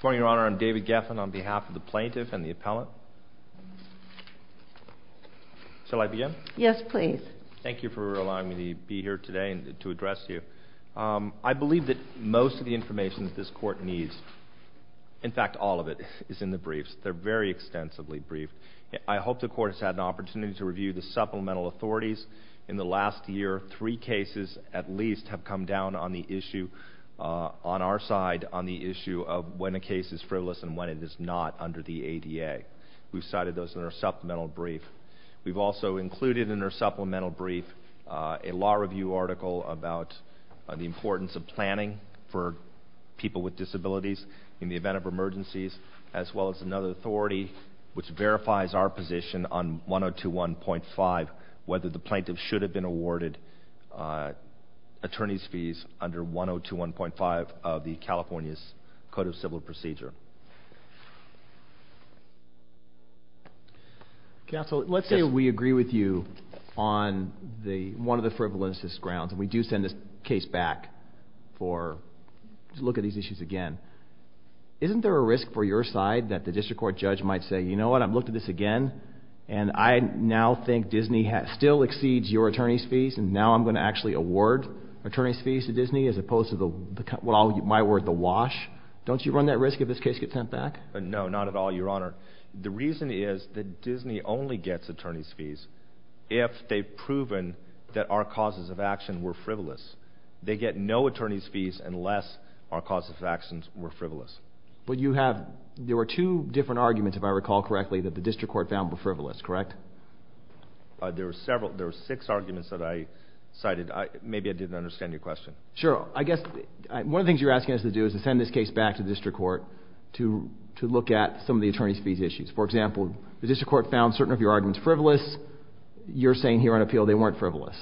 For your honor, I'm David Geffen on behalf of the plaintiff and the appellant. Shall I begin? Yes, please. Thank you for allowing me to be here today and to address you. I believe that most of the information that this court needs, in fact all of it, is in the briefs. They're very extensively briefed. I hope the court has had an opportunity to review the supplemental authorities. In the last year, three cases at least have come down on the issue on our side, on the issue of when a case is frivolous and when it is not under the ADA. We've cited those in our supplemental brief. We've also included in our supplemental brief a law review article about the importance of planning for people with disabilities in the event of emergencies, as well as another authority which verifies our position on 102.1.5, whether the plaintiff should have been awarded attorney's fees under 102.1.5 of the California's Code of Civil Procedure. Counsel, let's say we agree with you on one of the frivolous grounds, and we do send this case back to look at these issues again. Isn't there a risk for your side that the district court judge might say, you know what, I've looked at this again, and I now think Disney still exceeds your attorney's fees, and now I'm going to actually award attorney's fees to Disney, as opposed to the, well, I'll use my word, the wash? Don't you run that risk if this case gets sent back? No, not at all, your honor. The reason is that Disney only gets attorney's fees if they've proven that our causes of action were frivolous. They get no attorney's fees unless our causes of actions were frivolous. But you have, there were two different arguments, if I recall correctly, that the district court found were frivolous, correct? There were several, there were six arguments that I cited. Maybe I didn't understand your question. Sure. I guess one of the things you're asking us to do is to send this case back to the district court to look at some of the attorney's fees issues. For example, the district court found certain of your arguments frivolous. You're saying here on appeal they weren't frivolous.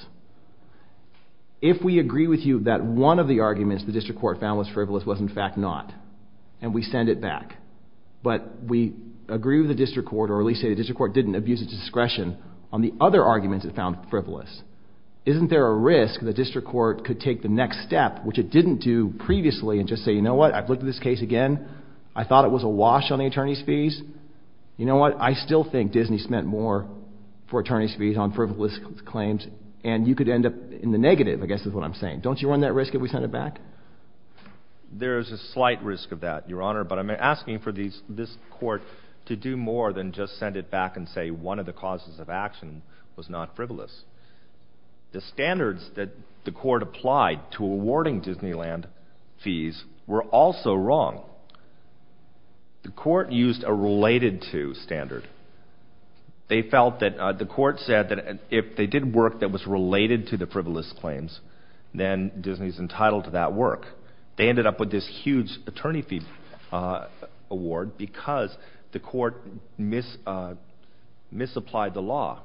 If we agree with you that one of the arguments the district court found was frivolous was in fact not, and we send it back, but we agree with the district court, or at least say the district court didn't abuse its discretion on the other arguments it found frivolous. Isn't there a risk the district court could take the next step, which it didn't do previously, and just say, you know what, I've looked at this case again. I thought it was a wash on the attorney's fees. You know what, I still think Disney spent more for attorney's fees on frivolous claims, and you could end up in the negative, I guess is what I'm saying. Don't you run that risk if we send it back? There is a slight risk of that, Your Honor, but I'm asking for these, this court to do more than just send it back and say one of the causes of action was not frivolous. The standards that the court applied to awarding Disneyland fees were also wrong. The court used a related to standard. They felt that the court said that if they did work that was related to the frivolous claims, then Disney's entitled to that work. They ended up with this huge attorney fee award because the court misapplied the law.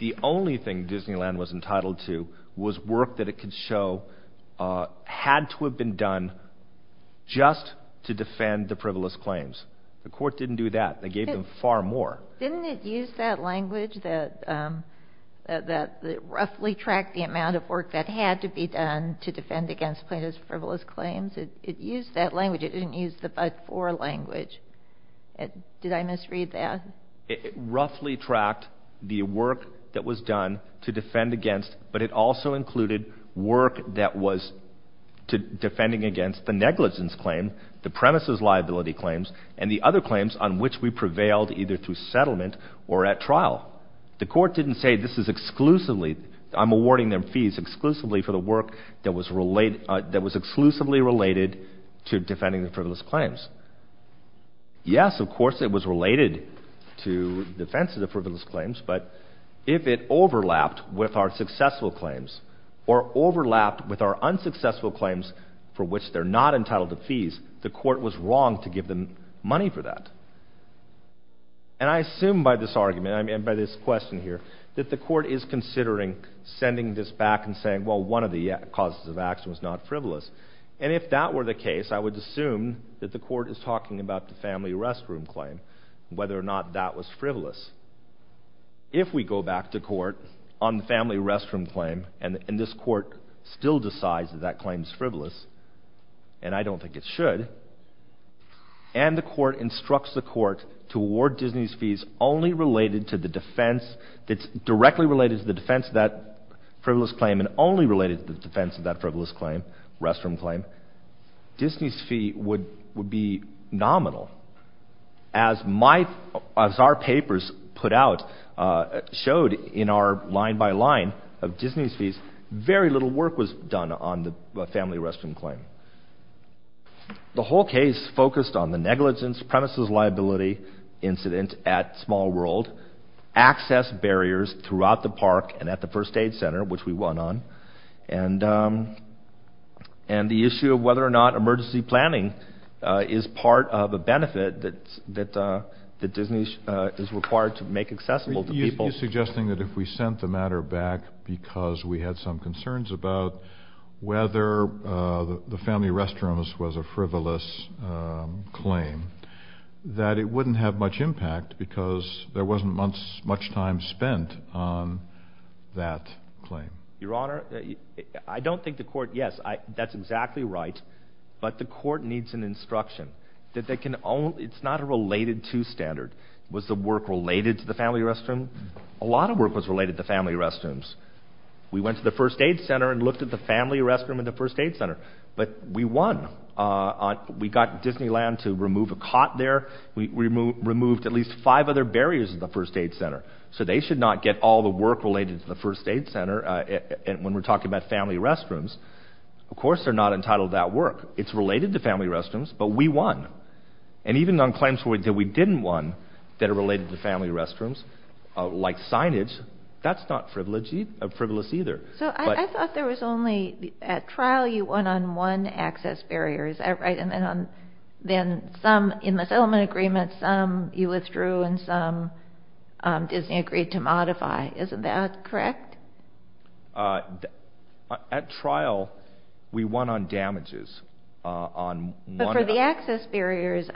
The only thing Disneyland was entitled to was work that it could show had to have been done just to defend the frivolous claims. The court didn't do that. They gave them far more. Didn't it use that language that roughly tracked the amount of work that had to be done to defend against plaintiff's frivolous claims? It used that language. It didn't use the but-for language. Did I misread that? It roughly tracked the work that was done to defend against, but it also included work that was defending against the negligence claim, the premises liability claims, and the other claims on which we prevailed either through settlement or at trial. The court didn't say this is exclusively, I'm awarding them fees exclusively for the work that was related, that was exclusively related to defending the frivolous claims. Yes, of course, it was related to defense of the frivolous claims, but if it overlapped with our successful claims or overlapped with our unsuccessful claims for which they're not entitled to fees, the court was wrong to give them money for that. And I assume by this argument, I mean by this question here, that the court is considering sending this back and saying, well, one of the causes of action was not frivolous. And if that were the case, I would assume that the court is talking about the family restroom claim, whether or not that was frivolous. If we go back to court on the family restroom claim and this court still decides that that claim is frivolous, and I don't think it should, and the court instructs the court to award Disney's fees only related to the defense that's directly related to the defense of that frivolous claim and only related to the defense of that restroom claim, Disney's fee would be nominal. As my, as our papers put out, showed in our line-by-line of Disney's fees, very little work was done on the family restroom claim. The whole case focused on the negligence, premises liability incident at Small World, access barriers throughout the park and at the issue of whether or not emergency planning is part of a benefit that Disney is required to make accessible to people. You're suggesting that if we sent the matter back because we had some concerns about whether the family restrooms was a frivolous claim, that it wouldn't have much impact because there wasn't much time spent on that claim. Your Honor, I don't think the court, yes, that's exactly right, but the court needs an instruction that they can only, it's not a related to standard. Was the work related to the family restroom? A lot of work was related to family restrooms. We went to the first aid center and looked at the family restroom at the first aid center, but we won. We got Disneyland to remove a cot there. We removed at least five other barriers at the first aid center, so they should not get all the work related to the first aid center when we're talking about family restrooms. Of course they're not entitled to that work. It's related to family restrooms, but we won. And even on claims that we didn't won that are related to family restrooms, like signage, that's not frivolous either. So I thought there was only, at trial you won on one access barrier, is that right? And then some in the settlement agreement, some you withdrew, and some Disney agreed to modify, isn't that correct? At trial, we won on damages. But for the access barriers,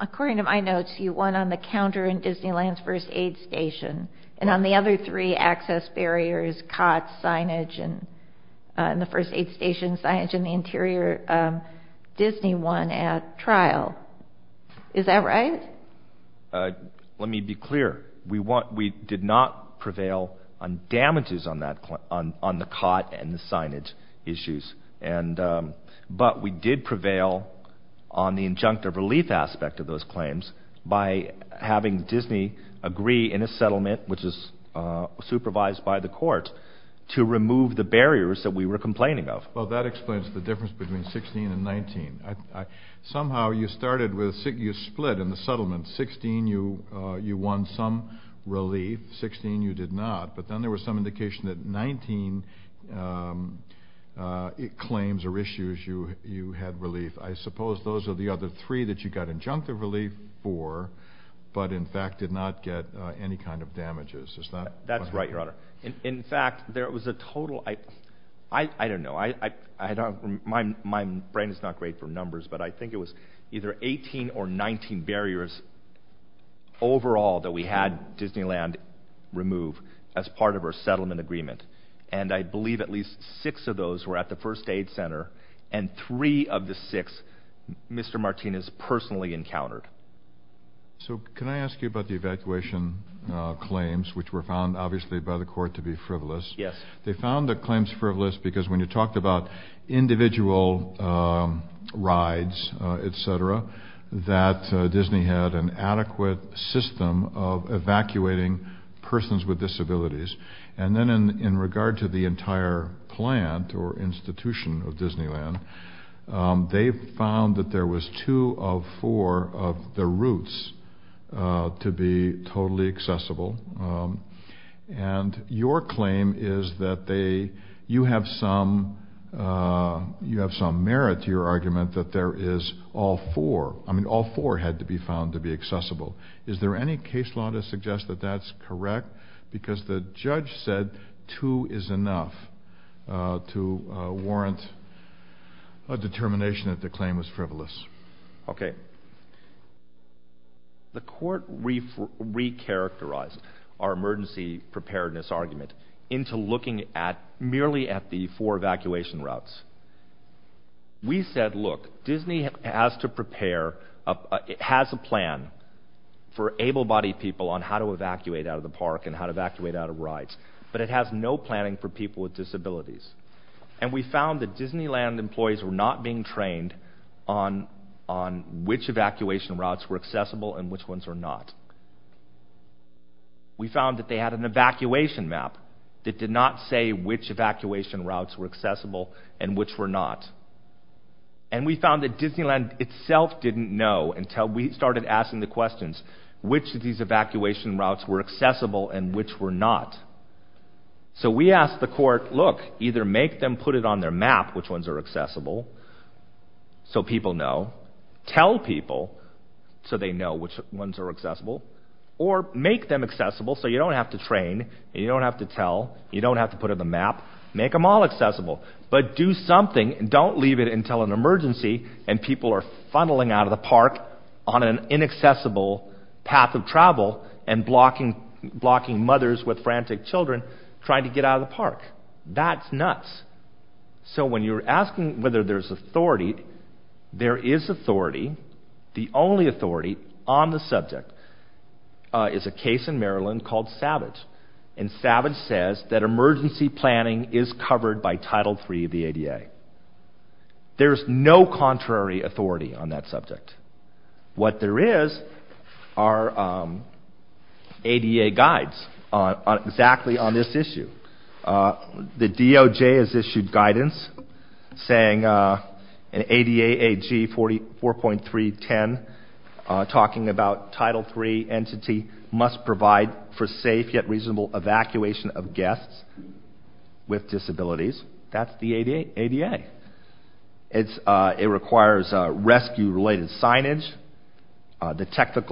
according to my notes, you won on the counter in Disneyland's first aid station, and on the other three access barriers, cots, signage, and the first aid station signage in the interior, Disney won at trial. Is that right? Let me be clear. We did not prevail on damages on the cot and the signage issues, but we did prevail on the injunctive relief aspect of those claims by having Disney agree in a settlement, which is supervised by the court, to remove the barriers that we were complaining of. Well, that explains the difference between 16 and 19. Somehow you started with, you split in the settlement, 16 you won some relief, 16 you did not, but then there was some indication that 19 claims or issues you had relief. I suppose those are the other three that you got injunctive relief for, but in fact did not get any kind of damages. That's right, Your Honor. In fact, there was a total, I don't know, my brain is not great for numbers, but I think it was either 18 or 19 barriers overall that we had Disneyland remove as part of our settlement agreement, and I believe at least six of those were at the first aid center, and three of the six Mr. Martinez personally encountered. So can I ask you about the evacuation claims, which were found obviously by the court to be frivolous? Yes. They found the claims frivolous because when you talked about individual rides, etc., that Disney had an adequate system of evacuating persons with disabilities, and then in regard to the entire plant or institution of Disneyland, they found that there was two of four of the routes to be totally accessible, and your claim is that you have some merit to your argument that there is all four, I mean all four had to be found to be accessible. Is there any case law to suggest that that's correct? Because the judge said two is enough to warrant a determination that the claim was frivolous. Okay. The court re-characterized our emergency preparedness argument into looking at merely at the four evacuation routes. We said look, Disney has to prepare, it has a plan for able-bodied people on how to evacuate out of the park and how to evacuate out of rides, but it has no planning for people with disabilities, and we found that Disneyland employees were not being trained on which evacuation routes were accessible and which ones were not. We found that they had an evacuation map that did not say which evacuation routes were accessible and which were not, and we found that Disneyland itself didn't know until we started asking the questions, which of these evacuation routes were accessible and which were not. So we asked the court, look, either make them put it on their map which ones are accessible so people know, tell people so they know which ones are accessible, or make them accessible so you don't have to train, you don't have to tell, you don't have to put in the map, make them all accessible, but do something and don't leave it until an emergency and people are funneling out of the park on an inaccessible path of travel and blocking mothers with frantic children trying to get out of the bus. So when you're asking whether there's authority, there is authority, the only authority on the subject is a case in Maryland called Savage, and Savage says that emergency planning is covered by Title III of the ADA. There's no contrary authority on that subject. What there is are ADA guides on exactly on this issue. The DOJ has issued guidance saying an ADA AG 44.310 talking about Title III entity must provide for safe yet reasonable evacuation of guests with disabilities. That's the ADA. It requires rescue related signage, the Title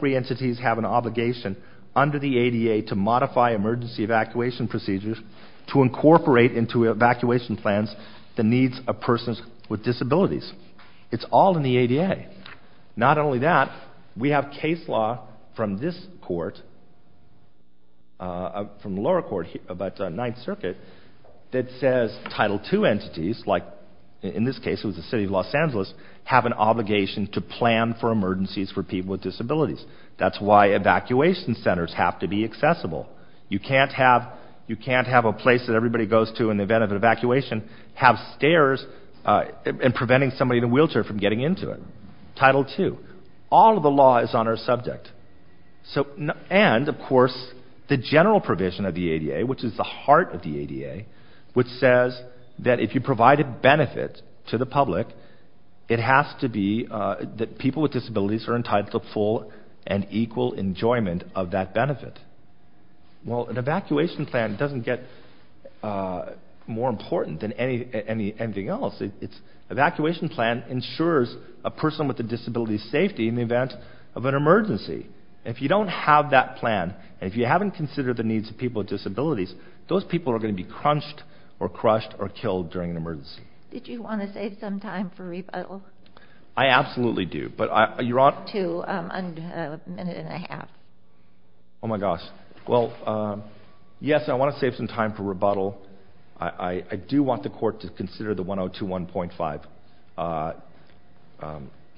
III entities have an obligation under the ADA to modify emergency evacuation procedures to incorporate into evacuation plans the needs of persons with disabilities. It's all in the ADA. Not only that, we have case law from this court, from the lower court about the Ninth Circuit, that says Title II entities, like in this case it was the City of Los Angeles, have an obligation to plan for emergencies for people with disabilities. That's why evacuation centers have to be accessible. You can't have a place that everybody goes to in the event of an evacuation have stairs and preventing somebody in a wheelchair from getting into it. Title II. All of the law is on our subject. And of course the general provision of the ADA, which is the heart of the ADA, which says that if you provide a benefit to the public, it has to be that people with disabilities are entitled to full and equal enjoyment of that benefit. Well, an evacuation plan doesn't get more important than anything else. An evacuation plan ensures a person with a disability's safety in the event of an emergency. If you don't have that plan, and if you haven't considered the needs of people with disabilities, those people are going to be crunched or crushed or killed during an emergency. Did you want to save some time for rebuttal? I absolutely do. But you're on? To a minute and a half. Oh my gosh. Well, yes, I want to save some time for rebuttal. I do want the court to consider the 1021.5.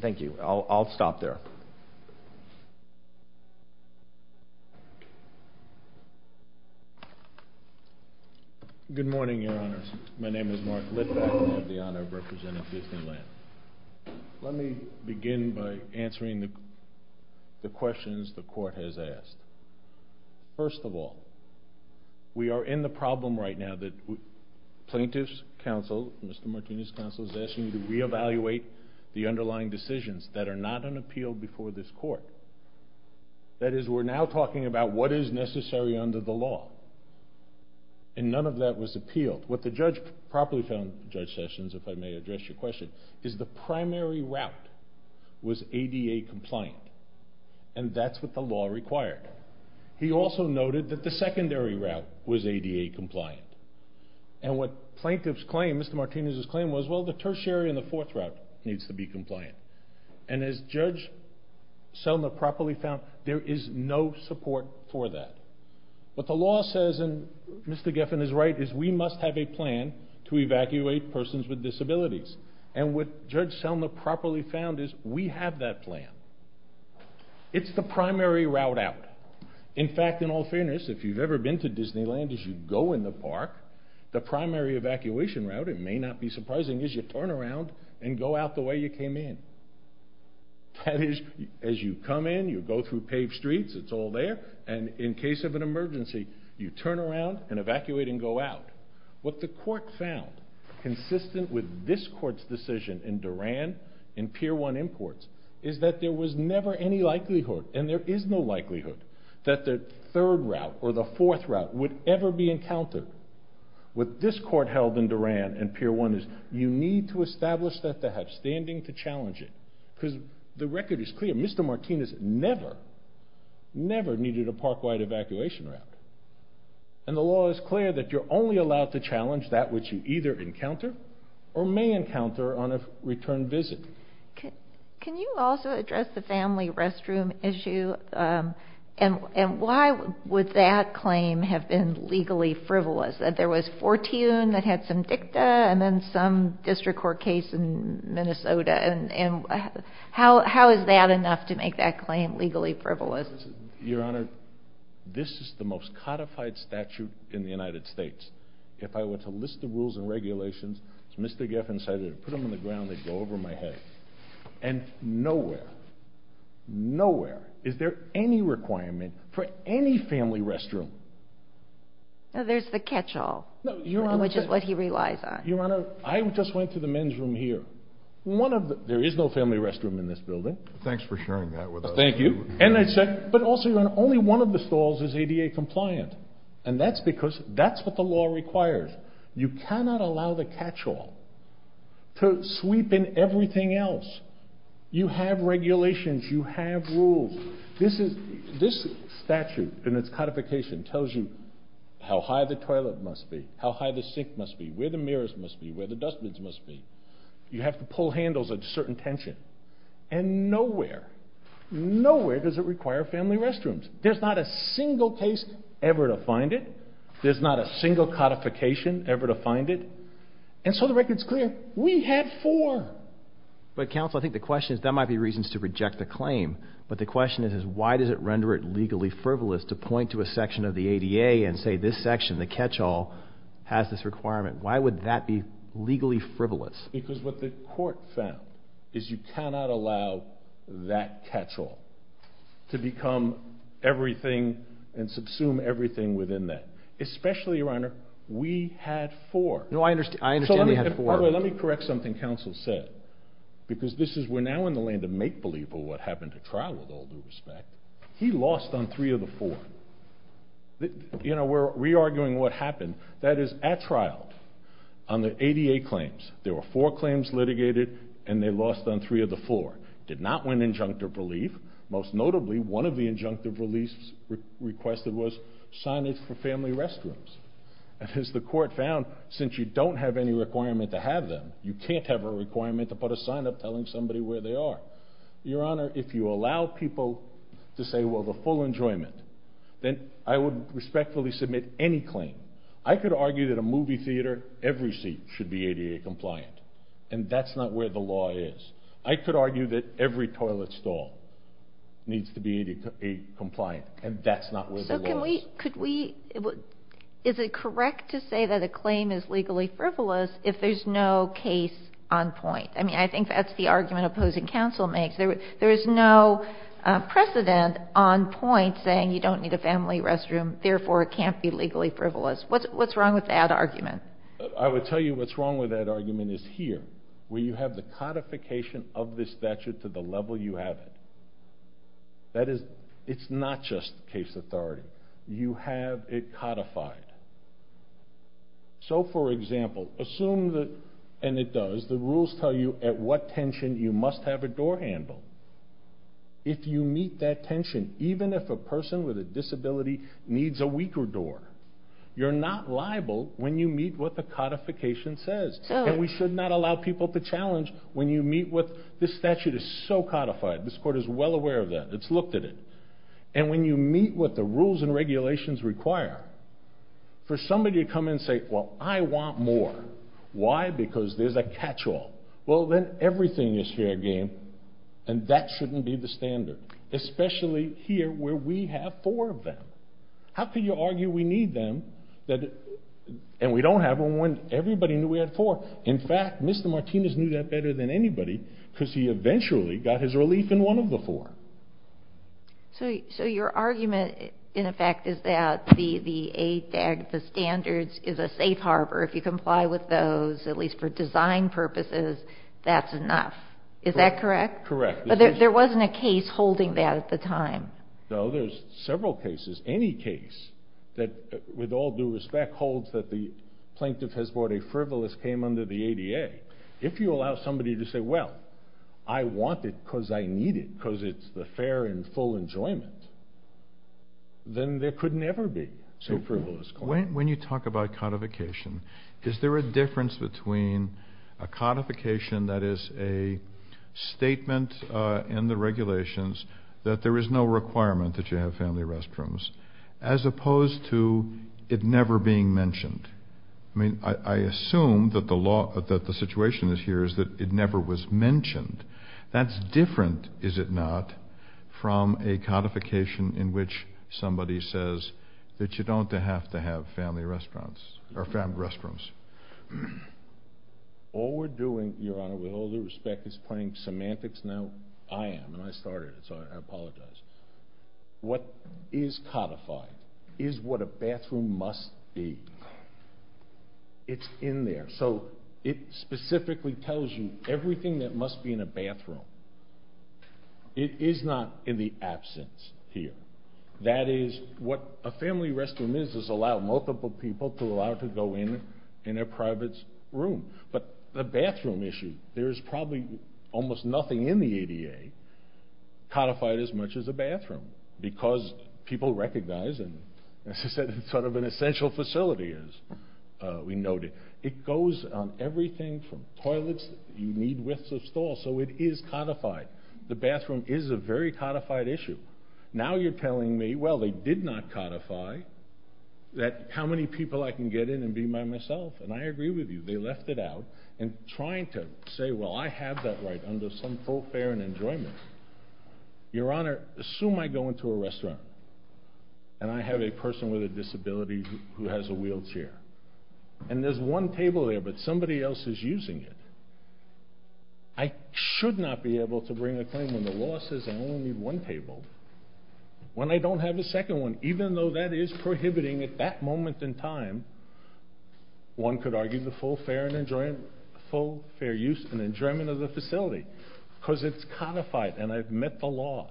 Thank you. I'll stop there. Good morning, Your Honors. My name is Mark Litvack. I have the honor of representing Disneyland. Let me begin by answering the questions the court has asked. First of all, we are in the problem right now that plaintiff's counsel, Mr. Martinez's counsel, is asking you to reevaluate the underlying decisions that are not on appeal before this court. That is, we're now talking about what is necessary under the law. And none of that was appealed. What the judge properly found, Judge Sessions, if I may address your question, is the primary route was ADA compliant. And that's what the law required. He also noted that the secondary route was ADA compliant. And what plaintiff's claim, Mr. Martinez's claim, was, well, the tertiary and the fourth route needs to be compliant. And as Judge Selma properly found, there is no support for that. What the law says, and Mr. Giffen is right, is we must have a plan to evacuate persons with disabilities. And what Judge Selma properly found is we have that plan. It's the primary route out. In fact, in all fairness, if you've ever been to Disneyland, as you go in the park, the primary evacuation route, it may not be surprising, is you turn around and go out the way you came in. That is, as you come in, you go through paved streets, it's all there. And in case of an emergency, you turn around and evacuate and go out. What the court found, consistent with this court's decision in Duran, in Pier 1 Imports, is that there was never any likelihood, and there is no likelihood, that the third route would ever be encountered. What this court held in Duran in Pier 1 is, you need to establish that they have standing to challenge it. Because the record is clear, Mr. Martinez never, never needed a park-wide evacuation route. And the law is clear that you're only allowed to challenge that which you either encounter or may encounter on a return visit. Can you also address the have been legally frivolous? That there was Fortune that had some dicta, and then some district court case in Minnesota, and how is that enough to make that claim legally frivolous? Your Honor, this is the most codified statute in the United States. If I were to list the rules and regulations, as Mr. Geffen said, I'd put them on the ground, they'd go over my head. And nowhere, nowhere is there any requirement for any family restroom. Now there's the catch-all, which is what he relies on. Your Honor, I just went to the men's room here. One of the, there is no family restroom in this building. Thanks for sharing that with us. Thank you. And I said, but also, Your Honor, only one of the stalls is ADA compliant. And that's because, that's what the law requires. You cannot allow the catch-all to sweep in everything else. You have regulations, you have rules. This is, this statute and its codification tells you how high the toilet must be, how high the sink must be, where the mirrors must be, where the dustbins must be. You have to pull handles at certain tension. And nowhere, nowhere does it require family restrooms. There's not a single case ever to find it. There's not a single codification ever to find it. And so the record's clear. We had four. But counsel, I think the question is, that might be reasons to reject the claim. But the question is, is why does it render it legally frivolous to point to a section of the ADA and say this section, the catch-all, has this requirement? Why would that be legally frivolous? Because what the court found is you cannot allow that catch-all to become everything and subsume everything within that. Especially, Your Honor, we had four. No, I understand, I understand they had four. Let me correct something counsel said. Because this is, we're now in the land of make-believe of what happened at trial, with all due respect. He lost on three of the four. You know, we're re-arguing what happened. That is, at trial, on the ADA claims, there were four claims litigated and they lost on three of the four. Did not win injunctive relief. Most notably, one of the injunctive reliefs requested was signage for family restrooms. And as the court found, since you don't have any requirement to have them, you can't have a requirement to put a sign up telling somebody where they are. Your Honor, if you allow people to say, well, the full enjoyment, then I would respectfully submit any claim. I could argue that a movie theater, every seat should be ADA compliant. And that's not where the law is. I could argue that every toilet stall needs to be ADA compliant. And that's not where the law is. So can we, could we, is it correct to say that a claim is legally frivolous if there's no case on point? I mean, I think that's the argument opposing counsel makes. There, there is no precedent on point saying you don't need a family restroom, therefore it can't be legally frivolous. What's, what's wrong with that argument? I would tell you what's wrong with that argument is here, where you have the codification of this statute to the level you have it. That is, it's not just case authority. You have it codified. So for example, assume that, and it does, the rules tell you at what tension you must have a door handle. If you meet that tension, even if a person with a disability needs a weaker door, you're not liable when you meet what the codification says. And we should not allow people to challenge when you meet what, this statute is so codified. This court is well aware of that. It's looked at it. And when you meet what the rules and regulations require, for somebody to come and say, well, I want more. Why? Because there's a catch-all. Well, then everything is fair game. And that shouldn't be the standard, especially here where we have four of them. How can you argue we need them that, and we don't have them when everybody knew we had four. In fact, Mr. Martinez knew that better than anybody, because he eventually got his relief in one of the four. So your argument, in effect, is that the standards is a safe harbor. If you comply with those, at least for design purposes, that's enough. Is that correct? Correct. But there wasn't a case holding that at the time. No, there's several cases. Any case that, with all due respect, holds that the plaintiff has a right to say, well, this is what a frivolous came under the ADA. If you allow somebody to say, well, I want it because I need it, because it's the fair and full enjoyment, then there could never be a frivolous claim. So when you talk about codification, is there a difference between a codification that is a statement in the regulations that there is no requirement that you have family restrooms, as opposed to it never being mentioned? I mean, I assume that the situation is here is that it never was mentioned. That's different, is it not, from a codification in which somebody says that you don't have to have family restaurants or family restrooms. All we're doing, Your Honor, with all due respect, is pointing semantics. Now, I am, and I started it, so I apologize. What is codified is what a bathroom must be. It's in there. So it specifically tells you everything that must be in a bathroom. It is not in the absence here. That is, what a family restroom is, is allow multiple people to allow to go in in a private room. But the bathroom issue, there is probably almost nothing in the ADA codified as much as a bathroom, because people recognize, and as I said, it's sort of an essential facility, as we noted. It goes on everything from toilets, you need widths of stall, so it is codified. The bathroom is a very codified issue. Now you're telling me, well, they did not codify that how many people I can get in and be by myself, and I agree with you. They left it out, and trying to say, well, I have that right under some for-fare and enjoyment. Your Honor, assume I go into a restaurant, and I have a person with a disability who has a wheelchair, and there's one table there, but somebody else is using it. I should not be able to bring a claim when the law says I only need one table, when I don't have a second one, even though that is prohibiting at that moment in time, one could argue the full-fare use and enjoyment of the facility, because it's codified, and I've met the law.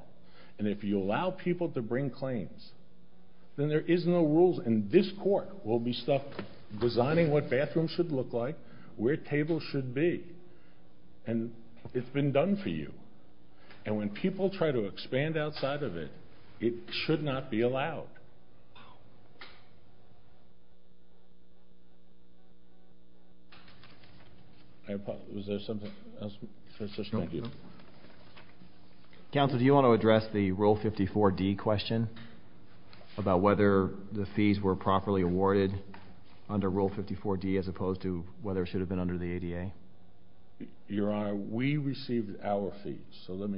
And if you allow people to bring claims, then there is no rules, and this Court will be stuck designing what bathrooms should look like, where tables should be, and it's been done for you. And when people try to expand outside of it, it should not be allowed. Was there something else? Counsel, do you want to address the Rule 54d question about whether the fees were properly awarded under Rule 54d, as opposed to whether it should have been under the ADA? Your Honor, we received our fees, so let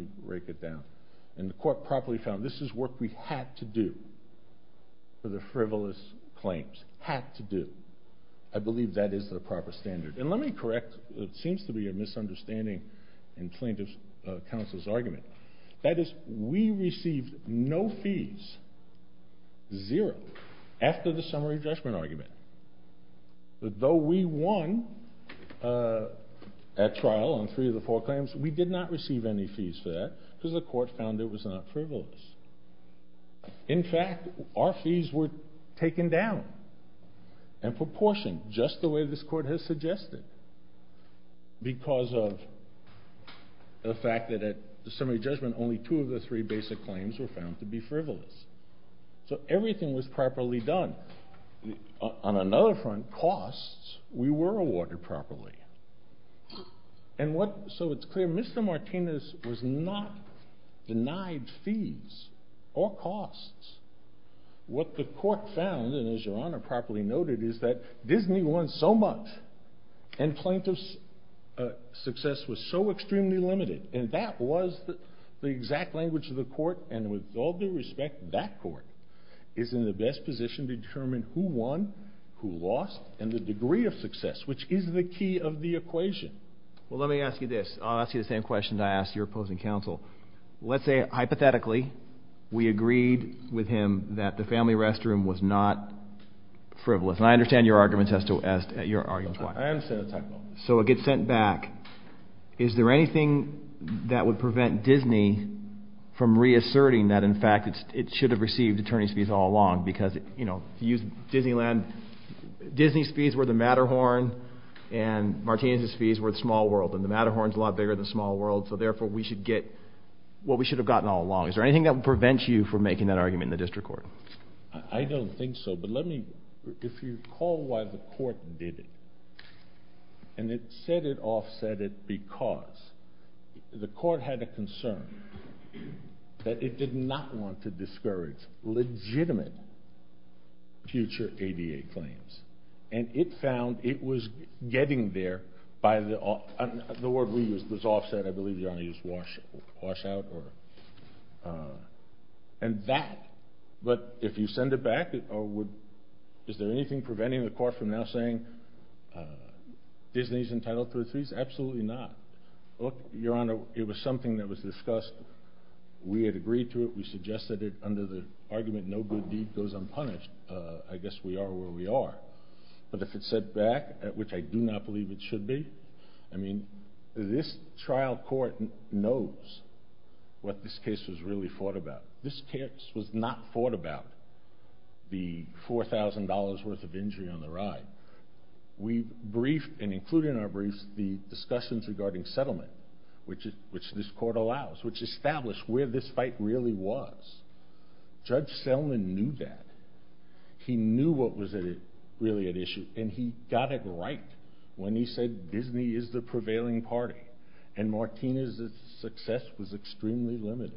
do, for the frivolous claims. Had to do. I believe that is the proper standard. And let me correct what seems to be a misunderstanding in plaintiff's counsel's argument. That is, we received no fees, zero, after the summary judgment argument. Though we won at trial on three of the four claims, we did not receive any fees for that, because the Court found it was not frivolous. In fact, our fees were taken down, and proportioned, just the way this Court has suggested, because of the fact that at the summary judgment, only two of the three basic claims were found to be frivolous. So everything was properly done. On another front, costs, we were awarded properly. And what, so it's clear, Mr. Martinez was not denied fees or costs. What the Court found, and as Your Honor properly noted, is that Disney won so much, and plaintiff's success was so extremely limited. And that was the exact language of the Court, and with all due respect, that Court is in the best position to determine who won, who lost, and the degree of success, which is the key of the equation. Well, let me ask you this. I'll ask you the same question I asked your opposing counsel. Let's say, hypothetically, we agreed with him that the family restroom was not frivolous. And I understand your argument has to, as your argument, so it gets sent back. Is there anything that would prevent Disney from reasserting that, in fact, we should have received attorney's fees all along? Because, you know, if you use Disneyland, Disney's fees were the Matterhorn, and Martinez's fees were the small world. And the Matterhorn's a lot bigger than the small world, so therefore, we should get what we should have gotten all along. Is there anything that would prevent you from making that argument in the District Court? I don't think so, but let me, if you recall why the Court did it, and it said it offset it because the Court did not want to discourage legitimate future ADA claims. And it found it was getting there by the, the word we used was offset, I believe your Honor used washout, or, and that, but if you send it back, or would, is there anything preventing the Court from now saying Disney's entitled to its fees? Absolutely not. Look, your Honor, it was something that was discussed. We had agreed to it. We suggested it under the argument no good deed goes unpunished. I guess we are where we are. But if it's set back, at which I do not believe it should be, I mean, this trial court knows what this case was really fought about. This case was not fought about, the $4,000 worth of injury on the ride. We briefed, and included in our briefs, the discussions regarding settlement, which this Court allows, which established where this fight really was. Judge Selman knew that. He knew what was really at issue, and he got it right when he said Disney is the prevailing party, and Martina's success was extremely limited.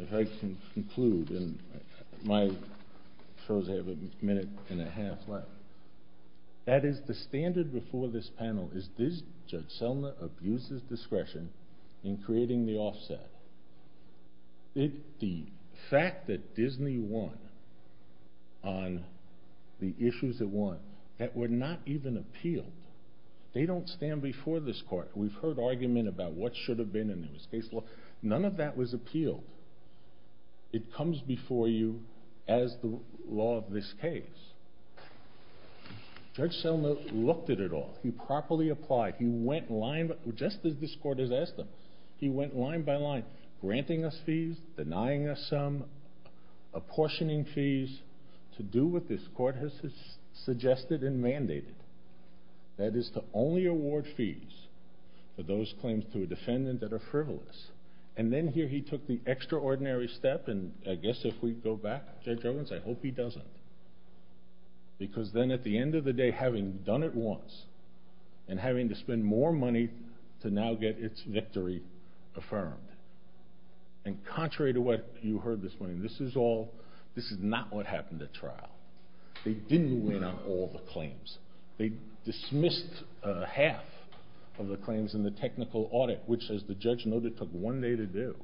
If I can conclude, and my shows have a minute and a half left. That is, the standard before this panel is Judge Selman abuses discretion in creating the offset. The fact that Disney won on the issues it won, that were not even appealed. They don't stand before this Court. We've heard argument about what should have been in this case. None of that was appealed. It comes before you as the law of this case. Judge Selman looked at it all. He properly applied. He went line by line, just as this Court has asked him. He went line by line, granting us fees, denying us some, apportioning fees, to do what this Court has suggested and mandated. That is, to only award fees for those claims to a defendant that are frivolous. Then here he took the extraordinary step, and I guess if we go back, Judge Owens, I hope he doesn't. Because then at the end of the day, having done it once, and having to spend more money to now get its victory affirmed. Contrary to what you heard this morning, this is not what happened at the time of the claims. They dismissed half of the claims in the technical audit, which, as the judge noted, took one day to do.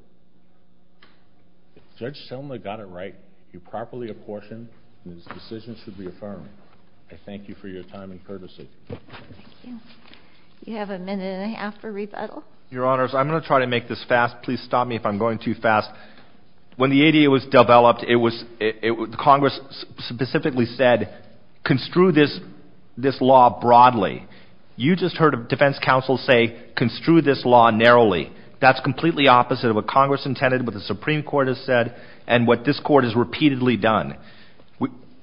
Judge Selman got it right. He properly apportioned, and his decision should be affirmed. I thank you for your time and courtesy. Thank you. You have a minute and a half for rebuttal. Your Honors, I'm going to try to make this fast. Please stop me if I'm going too fast. When the ADA was developed, Congress specifically said, construe this law broadly. You just heard a defense counsel say, construe this law narrowly. That's completely opposite of what Congress intended, what the Supreme Court has said, and what this Court has repeatedly done.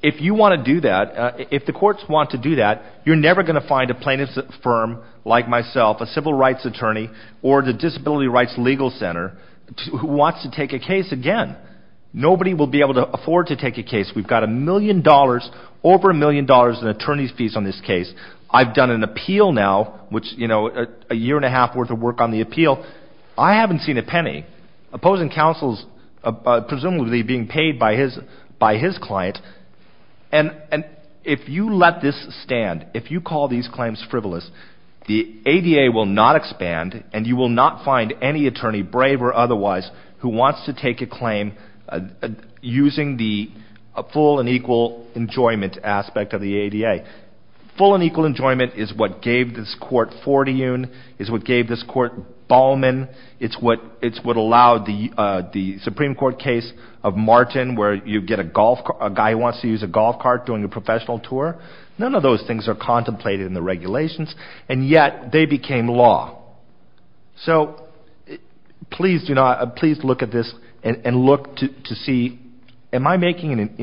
If you want to do that, if the courts want to do that, you're never going to find a plaintiff's firm, like myself, a civil rights attorney, or the Disability Rights Legal Center, who wants to take a case again. Nobody will be able to afford to take a case. We've got a million dollars in attorney's fees on this case. I've done an appeal now, which you know, a year and a half worth of work on the appeal. I haven't seen a penny. Opposing counsels, presumably being paid by his client, and if you let this stand, if you call these claims frivolous, the ADA will not expand, and you will not find any attorney, brave or otherwise, who wants to take a claim using the full and equal enjoyment aspect of the ADA. Full and equal enjoyment is what gave this court Forteune, is what gave this court Ballman, it's what allowed the Supreme Court case of Martin, where you get a guy who wants to use a golf cart during a professional tour. None of those things are contemplated in the regulations, and yet they became law. So please do not, please look at this and look to see, am I making an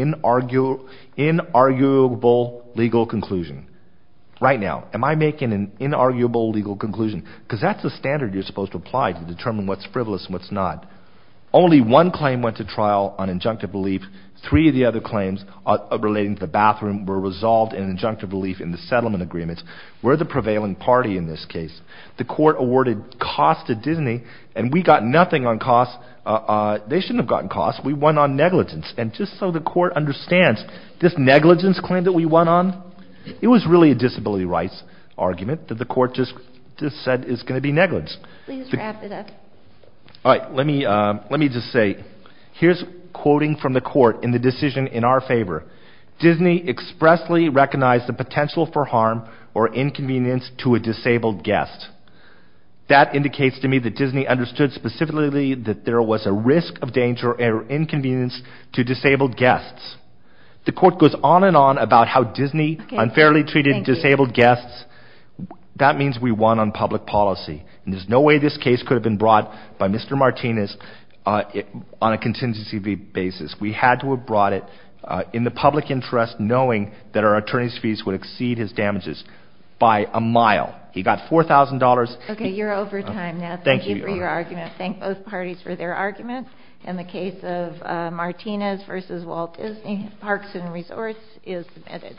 inarguable legal conclusion? Right now, am I making an inarguable legal conclusion? Because that's the standard you're supposed to apply to determine what's frivolous and what's not. Only one claim went to trial on injunctive relief. Three of the other claims relating to the bathroom were resolved in injunctive relief in the settlement agreements. We're the prevailing party in this case. The court got nothing on costs, they shouldn't have gotten costs, we went on negligence. And just so the court understands, this negligence claim that we went on, it was really a disability rights argument that the court just said is going to be negligence. All right, let me just say, here's quoting from the court in the decision in our favor. Disney expressly recognized the potential for harm or inconvenience to a disabled guest. That indicates to me that Disney understood specifically that there was a risk of danger or inconvenience to disabled guests. The court goes on and on about how Disney unfairly treated disabled guests. That means we won on public policy and there's no way this case could have been brought by Mr. Martinez on a contingency basis. We had to have brought it in the public interest knowing that our attorney's fees would exceed his damages by a mile. He got four thousand dollars. Okay, you're argument, thank both parties for their argument. In the case of Martinez versus Walt Disney, Parks and Resorts is submitted.